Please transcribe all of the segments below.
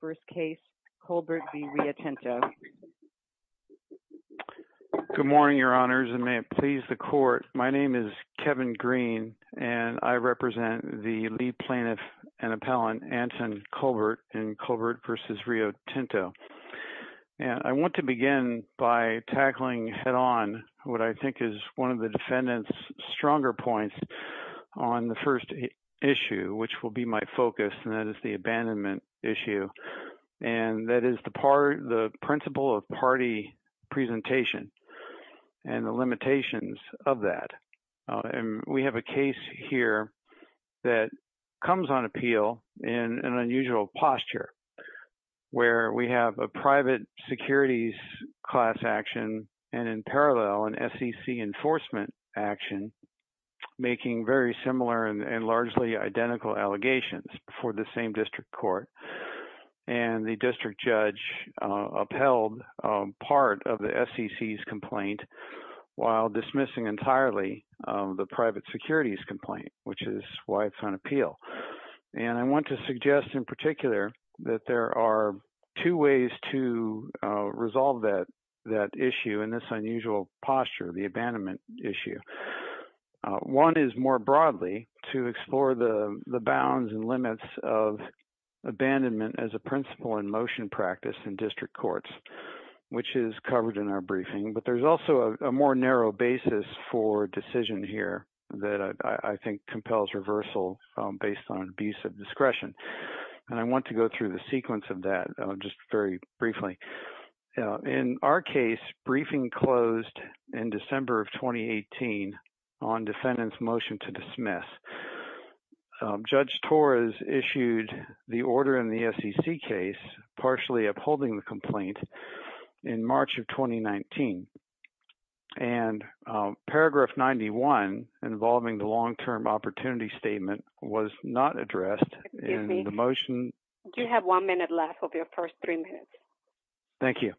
first case Colbert v. Rio Tinto. Good morning your honors and may it please the court my name is Kevin Green and I represent the lead plaintiff and appellant Anton Colbert in Colbert v. Rio Tinto and I want to begin by tackling head-on what I think is one of the defendants stronger points on the first issue which will be my focus and that is the abandonment issue and that is the part the principle of party presentation and the limitations of that and we have a case here that comes on appeal in an unusual posture where we have a private securities class action and in parallel an SEC enforcement action making very similar and largely identical allegations for the same district court and the district judge upheld part of the SEC's complaint while dismissing entirely the private securities complaint which is why it's on appeal and I want to suggest in particular that there are two ways to resolve that that issue in this unusual posture the abandonment issue one is more broadly to explore the the bounds and limits of abandonment as a principle in motion practice in district courts which is covered in our briefing but there's also a more narrow basis for decision here that I think compels reversal based on abuse of discretion and I want to go through the sequence of that just very briefly in our case briefing closed in December of 2018 on defendants motion to dismiss judge Torres issued the order in the SEC case partially upholding the complaint in March of 2019 and paragraph 91 involving the long-term opportunity statement was not addressed in the motion you have one minute left of your first three minutes thank you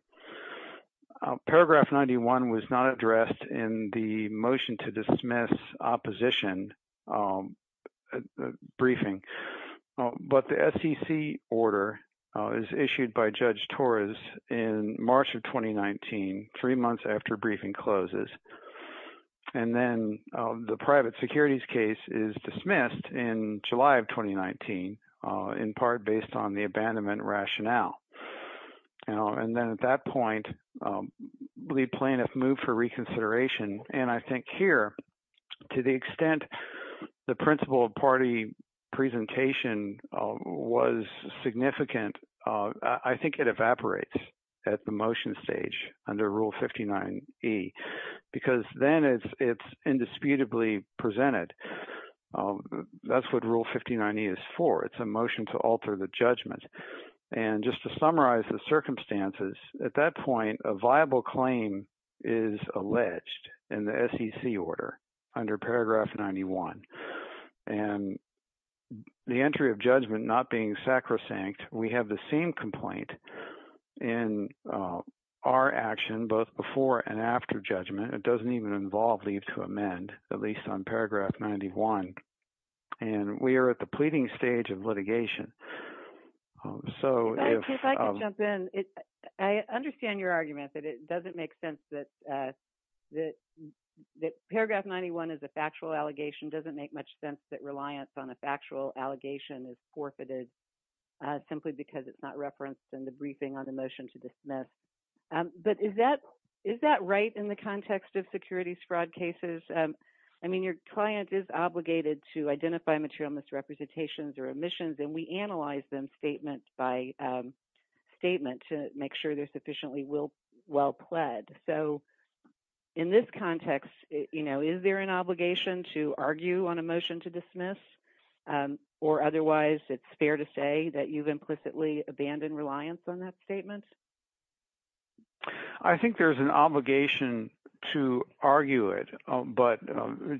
paragraph 91 was not addressed in the motion to dismiss opposition briefing but the SEC order is issued by judge Torres in March of 2019 three months after briefing closes and then the private securities case is dismissed in July of 2019 in part based on the abandonment rationale and then at that point the plaintiff moved for reconsideration and I think here to the extent the principle of party presentation was significant I think it evaporates at the motion stage under rule 59e because then it's it's indisputably presented that's what rule 59e is for it's a motion to alter the judgment and just to summarize the circumstances at that point a viable claim is alleged in the SEC order under paragraph 91 and the entry of judgment not being sacrosanct we have the same complaint in our action both before and after judgment it doesn't even involve leave to amend at least on paragraph 91 and we are at the pleading stage of litigation so I understand your argument that it doesn't make sense that that that paragraph 91 is a factual allegation doesn't make much sense that on a factual allegation is forfeited simply because it's not referenced in the briefing on the motion to dismiss but is that is that right in the context of securities fraud cases I mean your client is obligated to identify material misrepresentations or omissions and we analyze them statement by statement to make sure they're sufficiently will well pled so in this context you know is there an obligation to argue on a motion to dismiss or otherwise it's fair to say that you've implicitly abandoned reliance on that statement I think there's an obligation to argue it but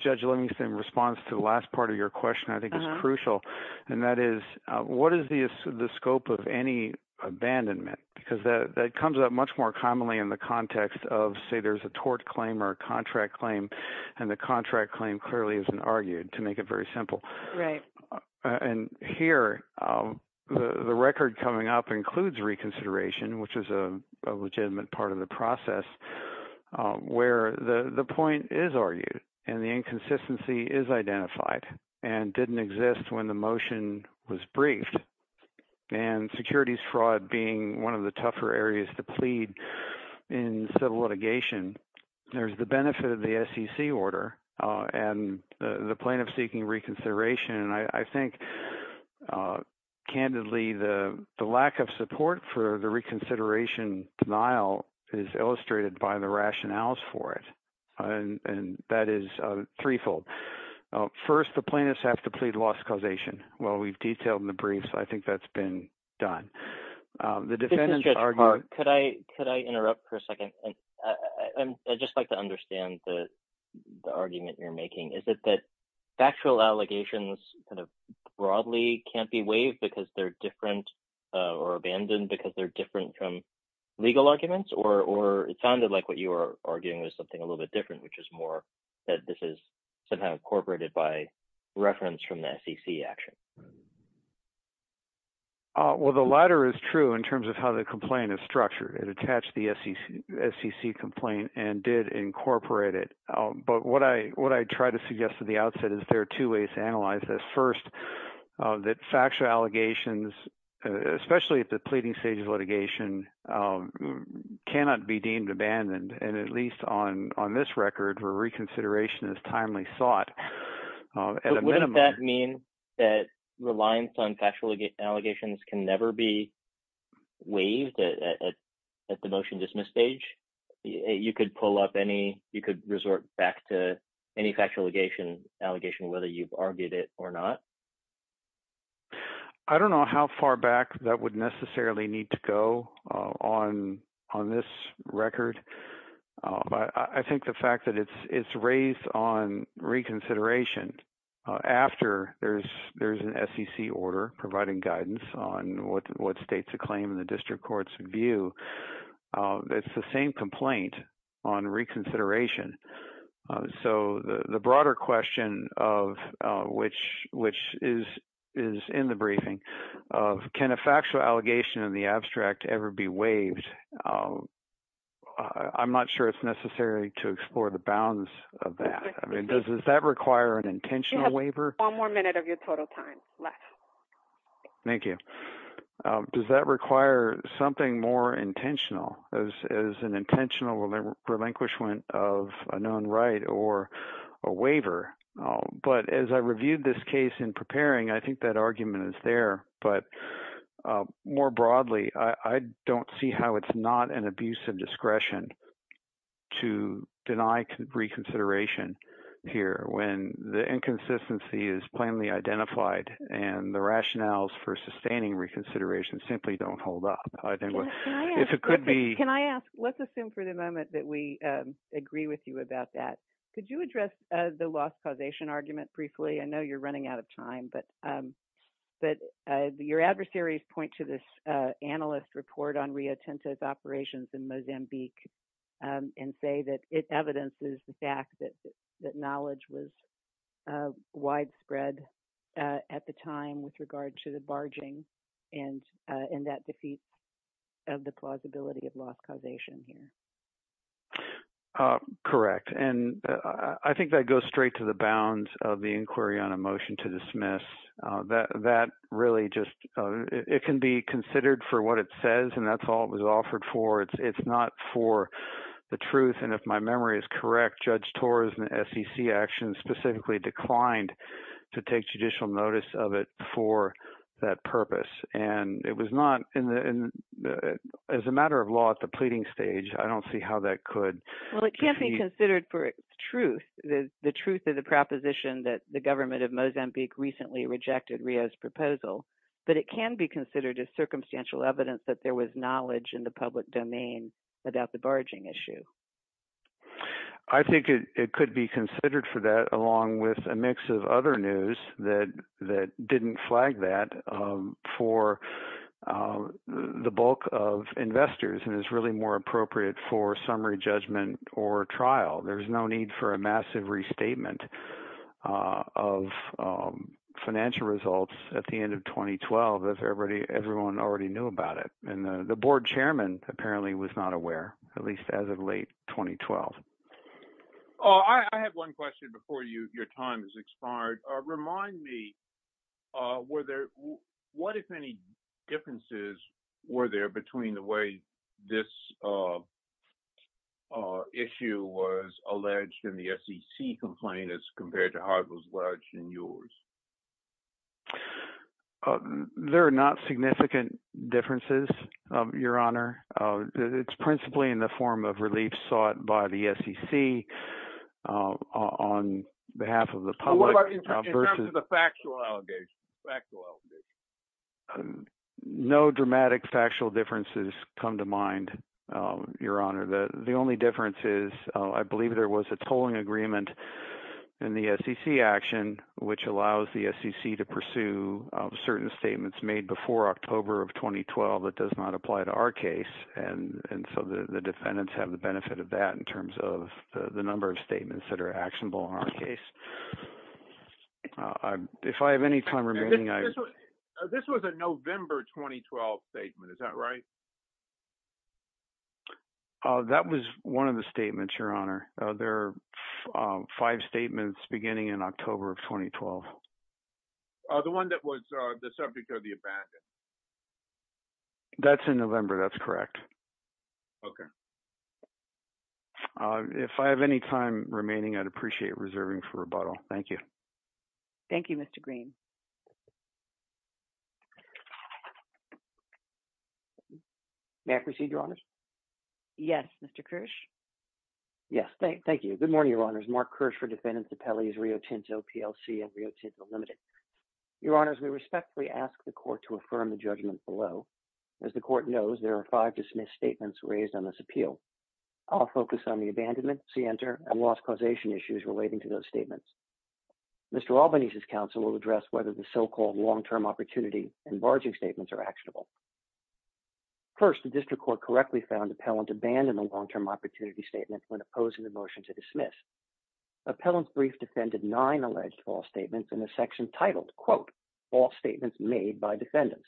judge let me send response to the last part of your question I think is crucial and that is what is the scope of any abandonment because that comes up much more commonly in the context of say there's a tort claim or a contract claim and the contract claim clearly is an argued to make it very simple right and here the record coming up includes reconsideration which is a legitimate part of the process where the the point is argued and the inconsistency is identified and didn't exist when the motion was briefed and securities fraud being one of the tougher areas to plead in civil litigation there's the benefit of the SEC order and the plaintiff seeking reconsideration and I think candidly the the lack of support for the reconsideration denial is illustrated by the rationales for it and and that is threefold first the plaintiffs have to plead loss causation well we've detailed in the briefs I think that's been done the defendant could I could I interrupt for a second and I just like to understand the argument you're making is it that factual allegations kind of broadly can't be waived because they're different or abandoned because they're different from legal arguments or it sounded like what you are arguing was something a little bit different which is more that this is somehow incorporated by reference from the SEC action well the latter is true in terms of how the complaint is structured it attached the SEC complaint and did incorporate it but what I what I try to suggest at the outset is there are two ways to analyze this first that factual allegations especially at the pleading stages litigation cannot be deemed abandoned and at least on on this record for reconsideration is timely sought and what does that mean that reliance on factual allegations can never be waived at the motion dismiss stage you could pull up any you could resort back to any factual legation allegation whether you've argued it or not I don't know how far back that would necessarily need to go on on this record but I think the fact that it's it's raised on reconsideration after there's there's an SEC order providing guidance on what what states a claim in the district courts view that's the same complaint on reconsideration so the the broader question of which which is is in the briefing of can a factual allegation in the abstract ever be waived I'm not sure it's necessary to explore the bounds of that I mean does does that require an intentional waiver one more minute of your total time left thank you does that require something more intentional as an intentional relinquishment of a known right or a waiver but as I reviewed this case in preparing I think that argument is there but more broadly I don't see how it's not an abuse of discretion to deny reconsideration here when the inconsistency is plainly identified and the rationales for sustaining reconsideration simply don't hold up if it could be can I ask let's assume for the moment that we agree with you about that could you address the loss causation argument briefly I know you're adversaries point to this analyst report on Rio Tinto's operations in Mozambique and say that it evidences the fact that that knowledge was widespread at the time with regard to the barging and in that defeat of the plausibility of loss causation here correct and I think that goes straight to the bounds of the just it can be considered for what it says and that's all it was offered for it's it's not for the truth and if my memory is correct judge Torres and SEC actions specifically declined to take judicial notice of it for that purpose and it was not in the as a matter of law at the pleading stage I don't see how that could well it can't be considered for truth the truth of the proposition that the government of Mozambique recently rejected Rio's proposal but it can be considered as circumstantial evidence that there was knowledge in the public domain about the barging issue I think it could be considered for that along with a mix of other news that that didn't flag that for the bulk of investors and is really more appropriate for summary judgment or trial there's no need for a massive restatement of financial results at the end of 2012 as everybody everyone already knew about it and the board chairman apparently was not aware at least as of late 2012 I have one question before you your time is expired remind me were there what if any differences were there between the way this issue was alleged in the SEC complaint as compared to how it was lodged in yours there are not significant differences of your honor it's principally in the form of relief sought by the SEC on behalf of the factual allegations no dramatic factual differences come to mind your honor the the only difference is I believe there was a tolling agreement in the SEC action which allows the SEC to pursue certain statements made before October of 2012 that does not apply to our case and and so the defendants have the benefit of that in terms of the number of statements that are actionable in our case if I have any time remaining I this was a November 2012 statement is that right that was one of the statements your honor there are five statements beginning in October of 2012 the one that was the subject of the abandon that's in November that's correct okay if I have any time remaining I'd appreciate reserving for rebuttal thank you thank you mr. Green may I proceed your honors yes mr. Kirsch yes thank you good morning your honors mark Kirsch for defendants appellees Rio Tinto PLC and Rio Tinto limited your honors we respectfully ask the court to affirm the judgment below as the court knows there are five dismissed statements raised on this appeal I'll issues relating to those statements mr. Albany's his counsel will address whether the so-called long-term opportunity and barging statements are actionable first the district court correctly found appellant abandon a long-term opportunity statement when opposing the motion to dismiss appellants brief defended nine alleged false statements in the section titled quote false statements made by defendants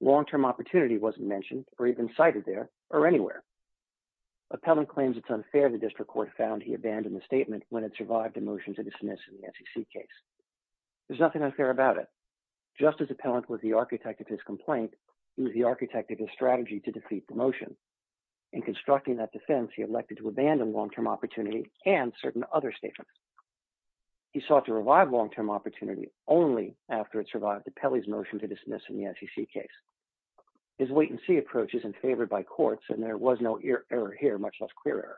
long-term opportunity wasn't mentioned or even cited there or anywhere appellant claims it's unfair the district court found he abandoned the statement when it survived a motion to dismiss in the SEC case there's nothing unfair about it justice appellant was the architect of his complaint he was the architect of his strategy to defeat the motion in constructing that defense he elected to abandon long-term opportunity and certain other statements he sought to revive long-term opportunity only after it survived the Pelly's motion to dismiss in the SEC case his wait-and-see approach isn't favored by courts and there was no ear error here much less clear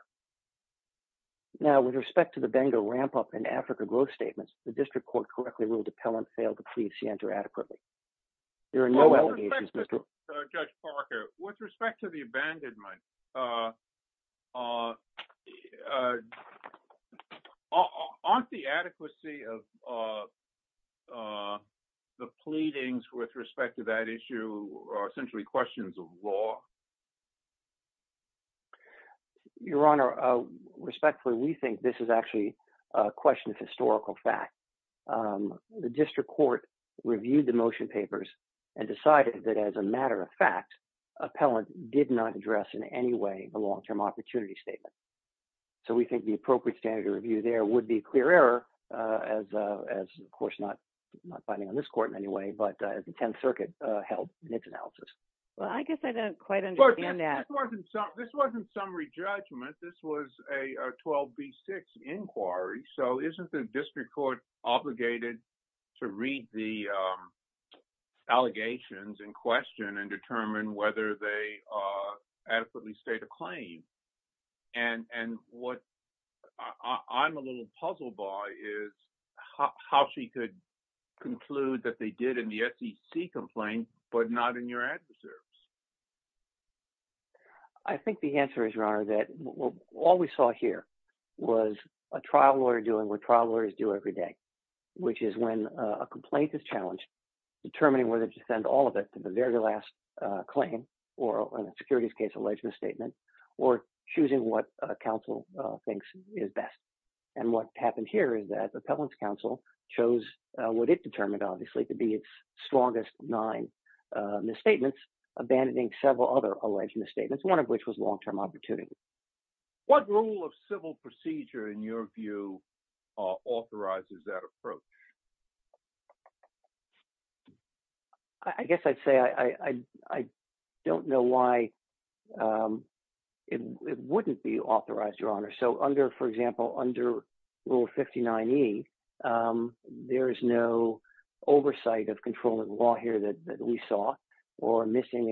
now with respect to the bengal ramp-up in Africa growth statements the district court correctly ruled appellant failed to please you enter adequately there are no allegations mr. Parker with respect to the abandonment aren't the adequacy of the pleadings with respect to that issue essentially questions of law your honor respectfully we think this is actually a question of historical fact the district court reviewed the motion papers and decided that as a matter of fact appellant did not address in any way the long-term opportunity statement so we think the appropriate standard review there would be clear error as of course not not circuit help nix analysis well I guess I don't quite understand that this wasn't summary judgment this was a 12b6 inquiry so isn't the district court obligated to read the allegations in question and determine whether they adequately state a claim and and what I'm a little puzzled by is how she could conclude that they did in the SEC complaint but not in your adverse I think the answer is your honor that all we saw here was a trial lawyer doing what trial lawyers do every day which is when a complaint is challenged determining whether to send all of it to the very last claim or a securities case alleged misstatement or choosing what counsel thinks is best and what obviously to be its strongest nine misstatements abandoning several other alleged misstatements one of which was long-term opportunity what rule of civil procedure in your view authorizes that approach I guess I'd say I I don't know why it wouldn't be authorized your honor so under for example under rule 59e there is no oversight of controlling law here that we saw or missing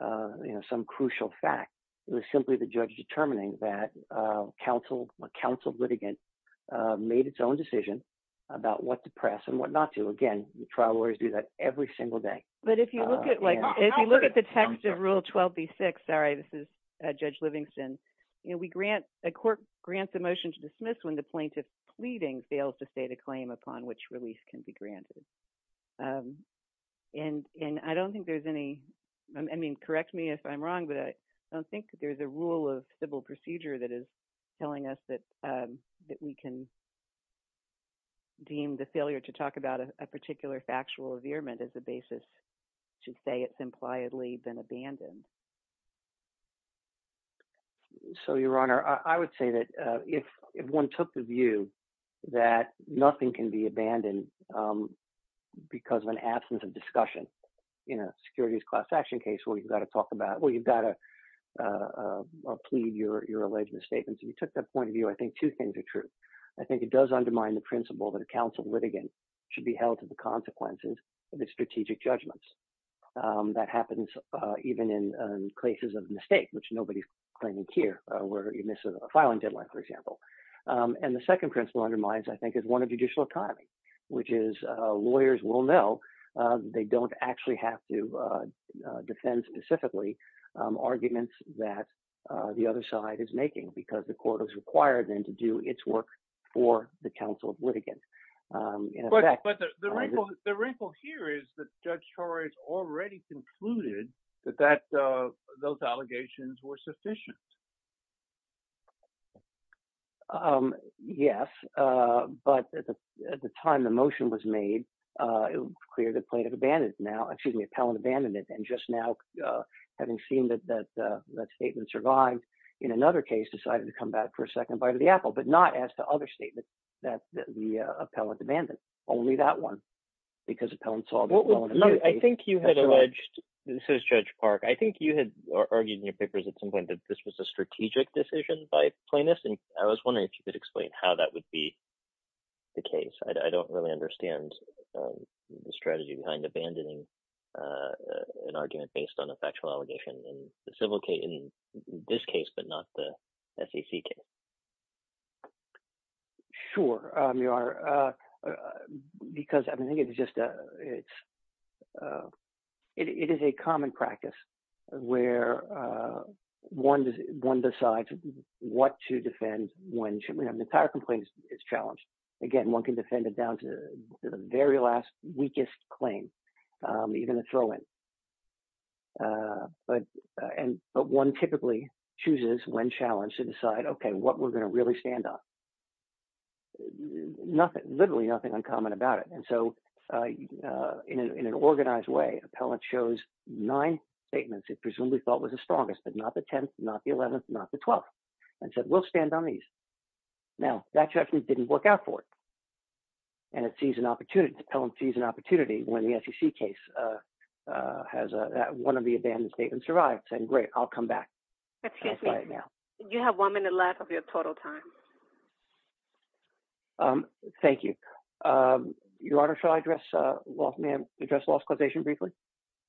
a you know some crucial fact it was simply the judge determining that counsel counsel litigant made its own decision about what to press and what not to again the trial lawyers do that every single day but if you look at like if you look at the text of rule 12b6 sorry this is Judge Livingston you know we grant a motion to dismiss when the plaintiff pleading fails to state a claim upon which release can be granted and and I don't think there's any I mean correct me if I'm wrong but I don't think that there's a rule of civil procedure that is telling us that that we can deem the failure to talk about a particular factual veer meant as a basis to say it's impliedly been abandoned so your honor I would say that if if one took the view that nothing can be abandoned because of an absence of discussion you know securities class action case where you've got to talk about well you've got a plea your alleged misstatements if you took that point of view I think two things are true I think it does undermine the principle that a counsel litigant should be held to the consequences of the strategic judgments that happens even in cases of mistake which nobody's claiming here we're missing a filing deadline for example and the second principle undermines I think is one of judicial economy which is lawyers will know they don't actually have to defend specifically arguments that the other side is making because the court was required them to do its work for the counsel of litigant the wrinkle here is that judge Torres already concluded that that those allegations were sufficient yes but at the time the motion was made it was clear that plaintiff abandoned now excuse me appellant abandoned it and just now having seen that that that statement survived in another case decided to come back for a second bite of the apple but not as to other statements that the appellant abandoned only that one because appellants all know I think you had alleged this is Judge Park I think you had argued in your papers at some point that this was a strategic decision by plaintiffs and I was wondering if you could explain how that would be the case I don't really understand the strategy behind abandoning an argument based on a factual allegation and the civil case this case but not the SEC sure you are because I think it's just a it's it is a common practice where one one decides what to defend when should we have the entire complaints is challenged again one can defend it down to the very last weakest claim you're going to throw in but and but one typically chooses when challenged to decide okay what we're going to really stand up nothing literally nothing uncommon about it and so in an organized way appellant shows nine statements it presumably thought was the strongest but not the 10th not the 11th not the 12th and said we'll stand on these now that just we didn't work out for it and it sees an opportunity to Pelham sees an opportunity when the SEC case has a one of the abandoned statement survived and great I'll come back you have one minute left of your total time thank you your honor shall I dress well ma'am address lost causation briefly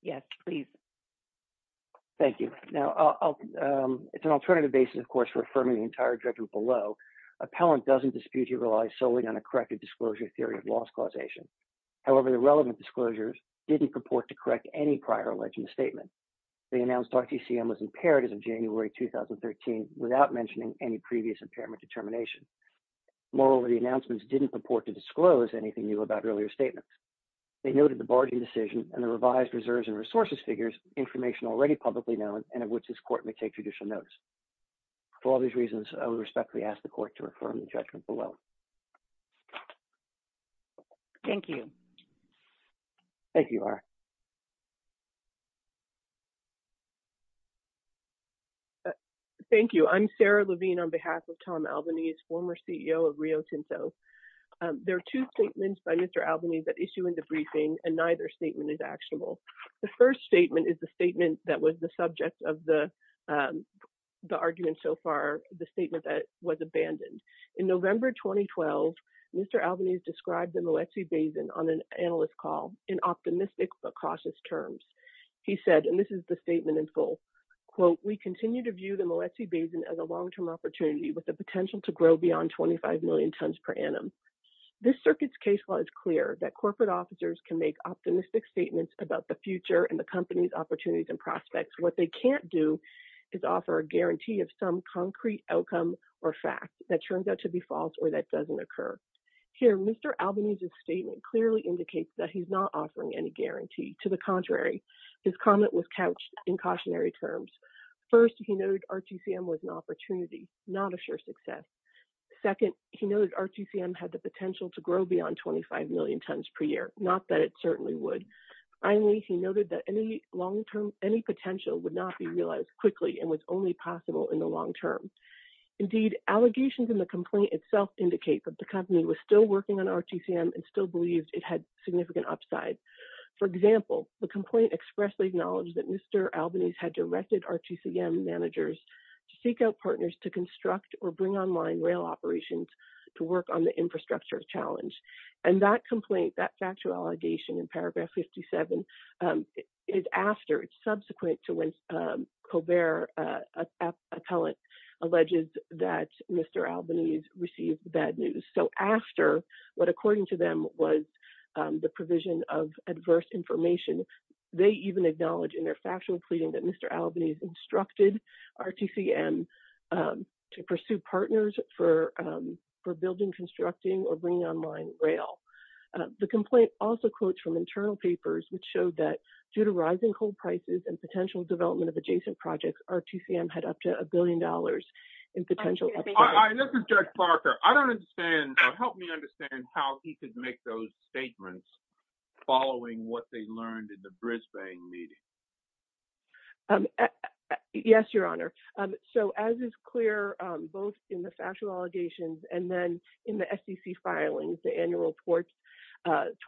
yes please thank you now it's an alternative basis of course for affirming the entire judgment below appellant doesn't dispute he relies solely on a corrected disclosure theory of loss causation however the relevant disclosures didn't purport to correct any prior alleged statement they announced RTCM was impaired as of January 2013 without mentioning any previous impairment determination moreover the announcements didn't purport to disclose anything new about earlier statements they noted the barging decision and the revised reserves and resources figures information already publicly known and which this court may take judicial notice for all these reasons I would respectfully ask the court to affirm the judgment below thank you thank you are thank you I'm Sarah Levine on behalf of Tom Albany is former CEO of Rio Tinto there are two statements by mr. Albany that issue in the briefing and neither statement is actionable the first statement is the statement that was the subject of the the argument so far the statement that was abandoned in November 2012 mr. Albany's described in the Lexi Basin on an analyst call in optimistic but cautious terms he said and this is the statement in full quote we continue to view the Moet C basin as a long-term opportunity with the potential to grow beyond 25 million tons per annum this circuits case law is clear that corporate officers can make optimistic statements about the future and the company's opportunities and prospects what they can't do is offer a guarantee of some concrete outcome or fact that turns out to be false or that doesn't occur here mr. Albany's a statement clearly indicates that he's not offering any guarantee to the contrary his comment was couched in cautionary terms first he noted RTCM was an opportunity not a sure success second he knows RTCM had the potential to grow beyond 25 million tons per year not that it certainly would finally he noted that any long term any potential would not be realized quickly and was only possible in the long term indeed allegations in the complaint itself indicate that the company was still working on RTCM and still believed it had significant upside for example the complaint expressly acknowledged that mr. Albany's had directed RTCM managers to seek out partners to construct or bring online rail operations to work on the infrastructure of challenge and that complaint that factual allegation in paragraph 57 is after it's subsequent to when Colbert appellate alleges that mr. Albany's received the bad news so after what according to them was the provision of adverse information they even acknowledged in their factual pleading that mr. Albany's instructed RTCM to the complaint also quotes from internal papers which showed that due to rising coal prices and potential development of adjacent projects RTCM had up to a billion dollars in potential following what they learned in the Brisbane meeting yes your honor so as is clear both in the factual allegations and then in the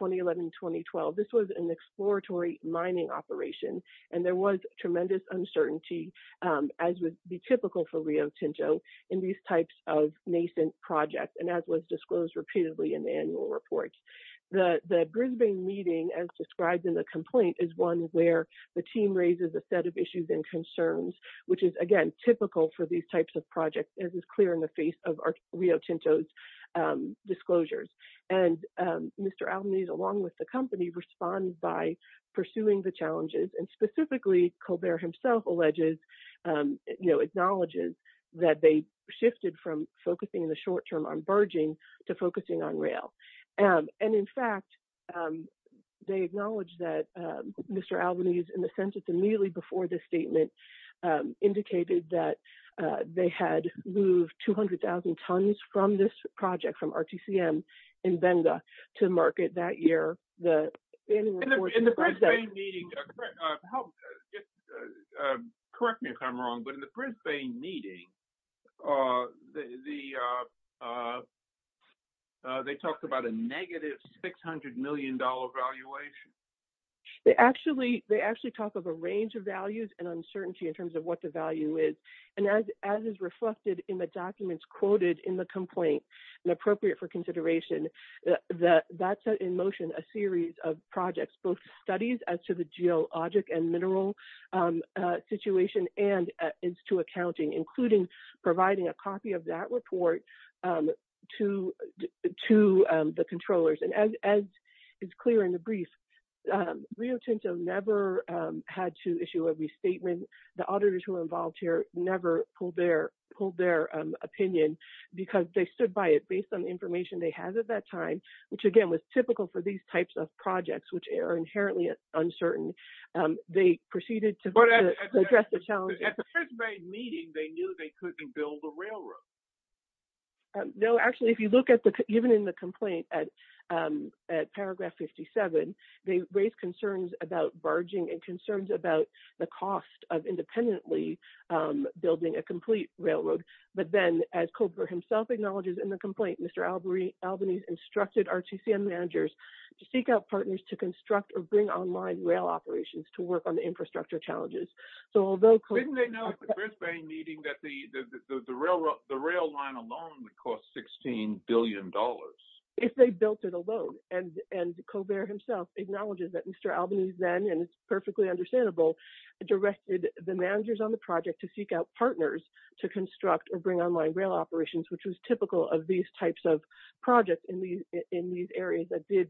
2011-2012 this was an exploratory mining operation and there was tremendous uncertainty as would be typical for Rio Tinto in these types of nascent projects and as was disclosed repeatedly in the annual reports the the Brisbane meeting as described in the complaint is one where the team raises a set of issues and concerns which is again typical for these types of projects as is clear in face of our Rio Tinto's disclosures and mr. Albany's along with the company responds by pursuing the challenges and specifically Colbert himself alleges you know acknowledges that they shifted from focusing in the short term on burgeoning to focusing on rail and in fact they acknowledge that mr. Albany's in the from this project from RTCM in Benga to market that year the correct me if I'm wrong but in the Brisbane meeting they talked about a negative 600 million dollar valuation they actually they actually talk of a range of values and uncertainty in terms of what the value is and as as is reflected in the documents quoted in the complaint and appropriate for consideration that that set in motion a series of projects both studies as to the geologic and mineral situation and is to accounting including providing a copy of that report to to the controllers and as is clear in the brief Rio Tinto never had to issue every the auditors who are involved here never pulled their pulled their opinion because they stood by it based on the information they had at that time which again was typical for these types of projects which are inherently uncertain they proceeded to address the challenge meeting they knew they couldn't build a railroad no actually if you look at the even in the complaint at paragraph 57 they raised concerns about barging and concerns about the cost of independently building a complete railroad but then as Cobra himself acknowledges in the complaint mr. Albury Albany's instructed RTCM managers to seek out partners to construct or bring online rail operations to work on the infrastructure challenges so although the railroad the rail line alone cost 16 billion dollars if they built it alone and and Cobra himself acknowledges that mr. Albany's then and it's perfectly understandable directed the managers on the project to seek out partners to construct or bring online rail operations which was typical of these types of projects in these in these areas that did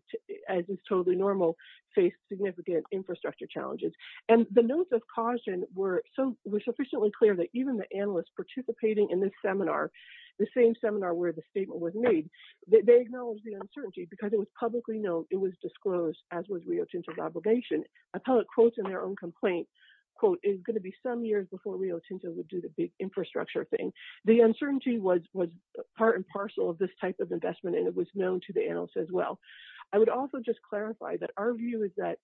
as is totally normal face significant infrastructure challenges and the notes of caution were so we're sufficiently clear that even the analysts participating in this seminar the same seminar where the statement was made they acknowledge the uncertainty because it was publicly known it was disclosed as was Rio Tinto obligation appellate quotes in their own complaint quote is going to be some years before Rio Tinto would do the big infrastructure thing the uncertainty was was part and parcel of this type of investment and it was known to the analysts as well I would also just clarify that our view is that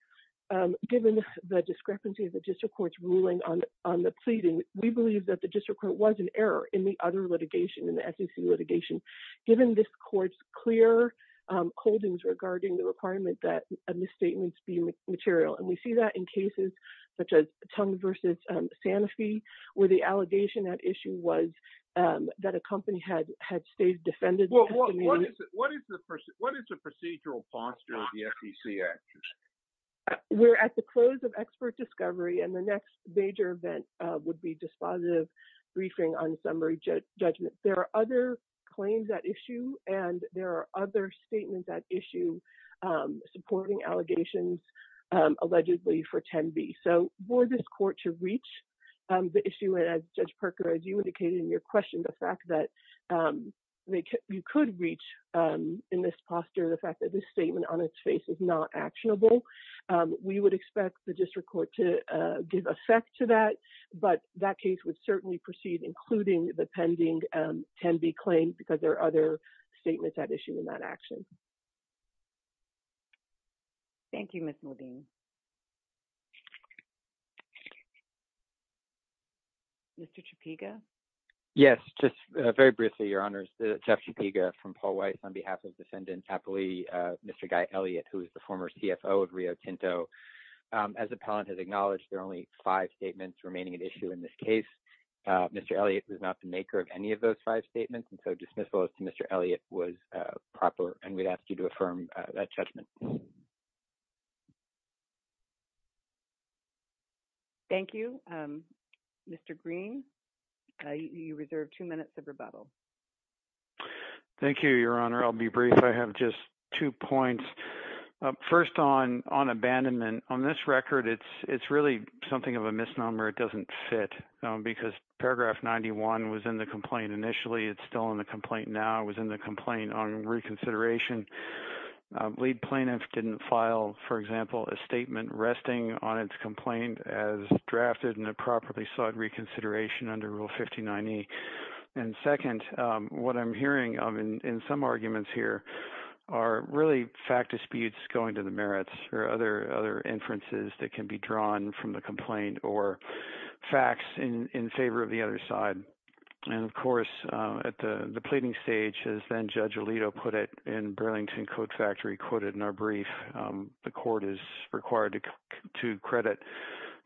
given the discrepancy of the district courts ruling on on the pleading we believe that the district court was an error in the other litigation in the SEC litigation given this courts clear holdings regarding the requirement that a misstatements be material and we see that in cases such as tongue versus Santa Fe where the allegation that issue was that a company had had stayed defended what is the first what is the procedural posture of the SEC action we're at the close of expert discovery and the next major event would be dispositive briefing on summary judgment there are other claims that issue and there are other statements that issue supporting allegations allegedly for 10b so for this court to reach the issue as judge Parker as you indicated in your question the fact that they could you could reach in this posture the fact that this statement on its face is not actionable we would expect the district court to give effect to that but that case would certainly proceed including the pending can be claimed because there are other statements that issue in that action thank you miss Muldoon mr. Chapika yes just very briefly your honors Jeff Chapika from Paul Weiss on behalf of descendants happily mr. guy Elliott who is the former CFO of Rio Tinto as appellant has acknowledged there are only five statements remaining an issue in this case mr. Elliott was not the maker of any of those five statements and so dismissal as to mr. Elliott was proper and we'd ask you to affirm that judgment thank you mr. Green you reserve two minutes of rebuttal thank you your honor I'll be brief I have just two points first on on abandonment on this record it's it's really something of a misnomer it doesn't fit because paragraph 91 was in the complaint initially it's still in the complaint now it was in the complaint on reconsideration lead plaintiff didn't file for example a statement resting on its complaint as drafted and it properly sought reconsideration under rule 59e and really fact disputes going to the merits or other other inferences that can be drawn from the complaint or facts in in favor of the other side and of course at the the pleading stage has been judge Alito put it in Burlington Coat Factory quoted in our brief the court is required to credit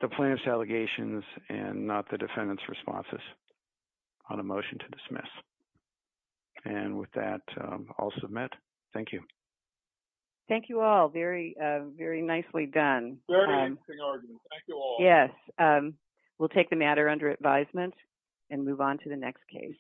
the plaintiffs allegations and not the defendants responses on a motion to dismiss and with that I'll submit thank you thank you all very very nicely done yes we'll take the matter under advisement and move on to the next case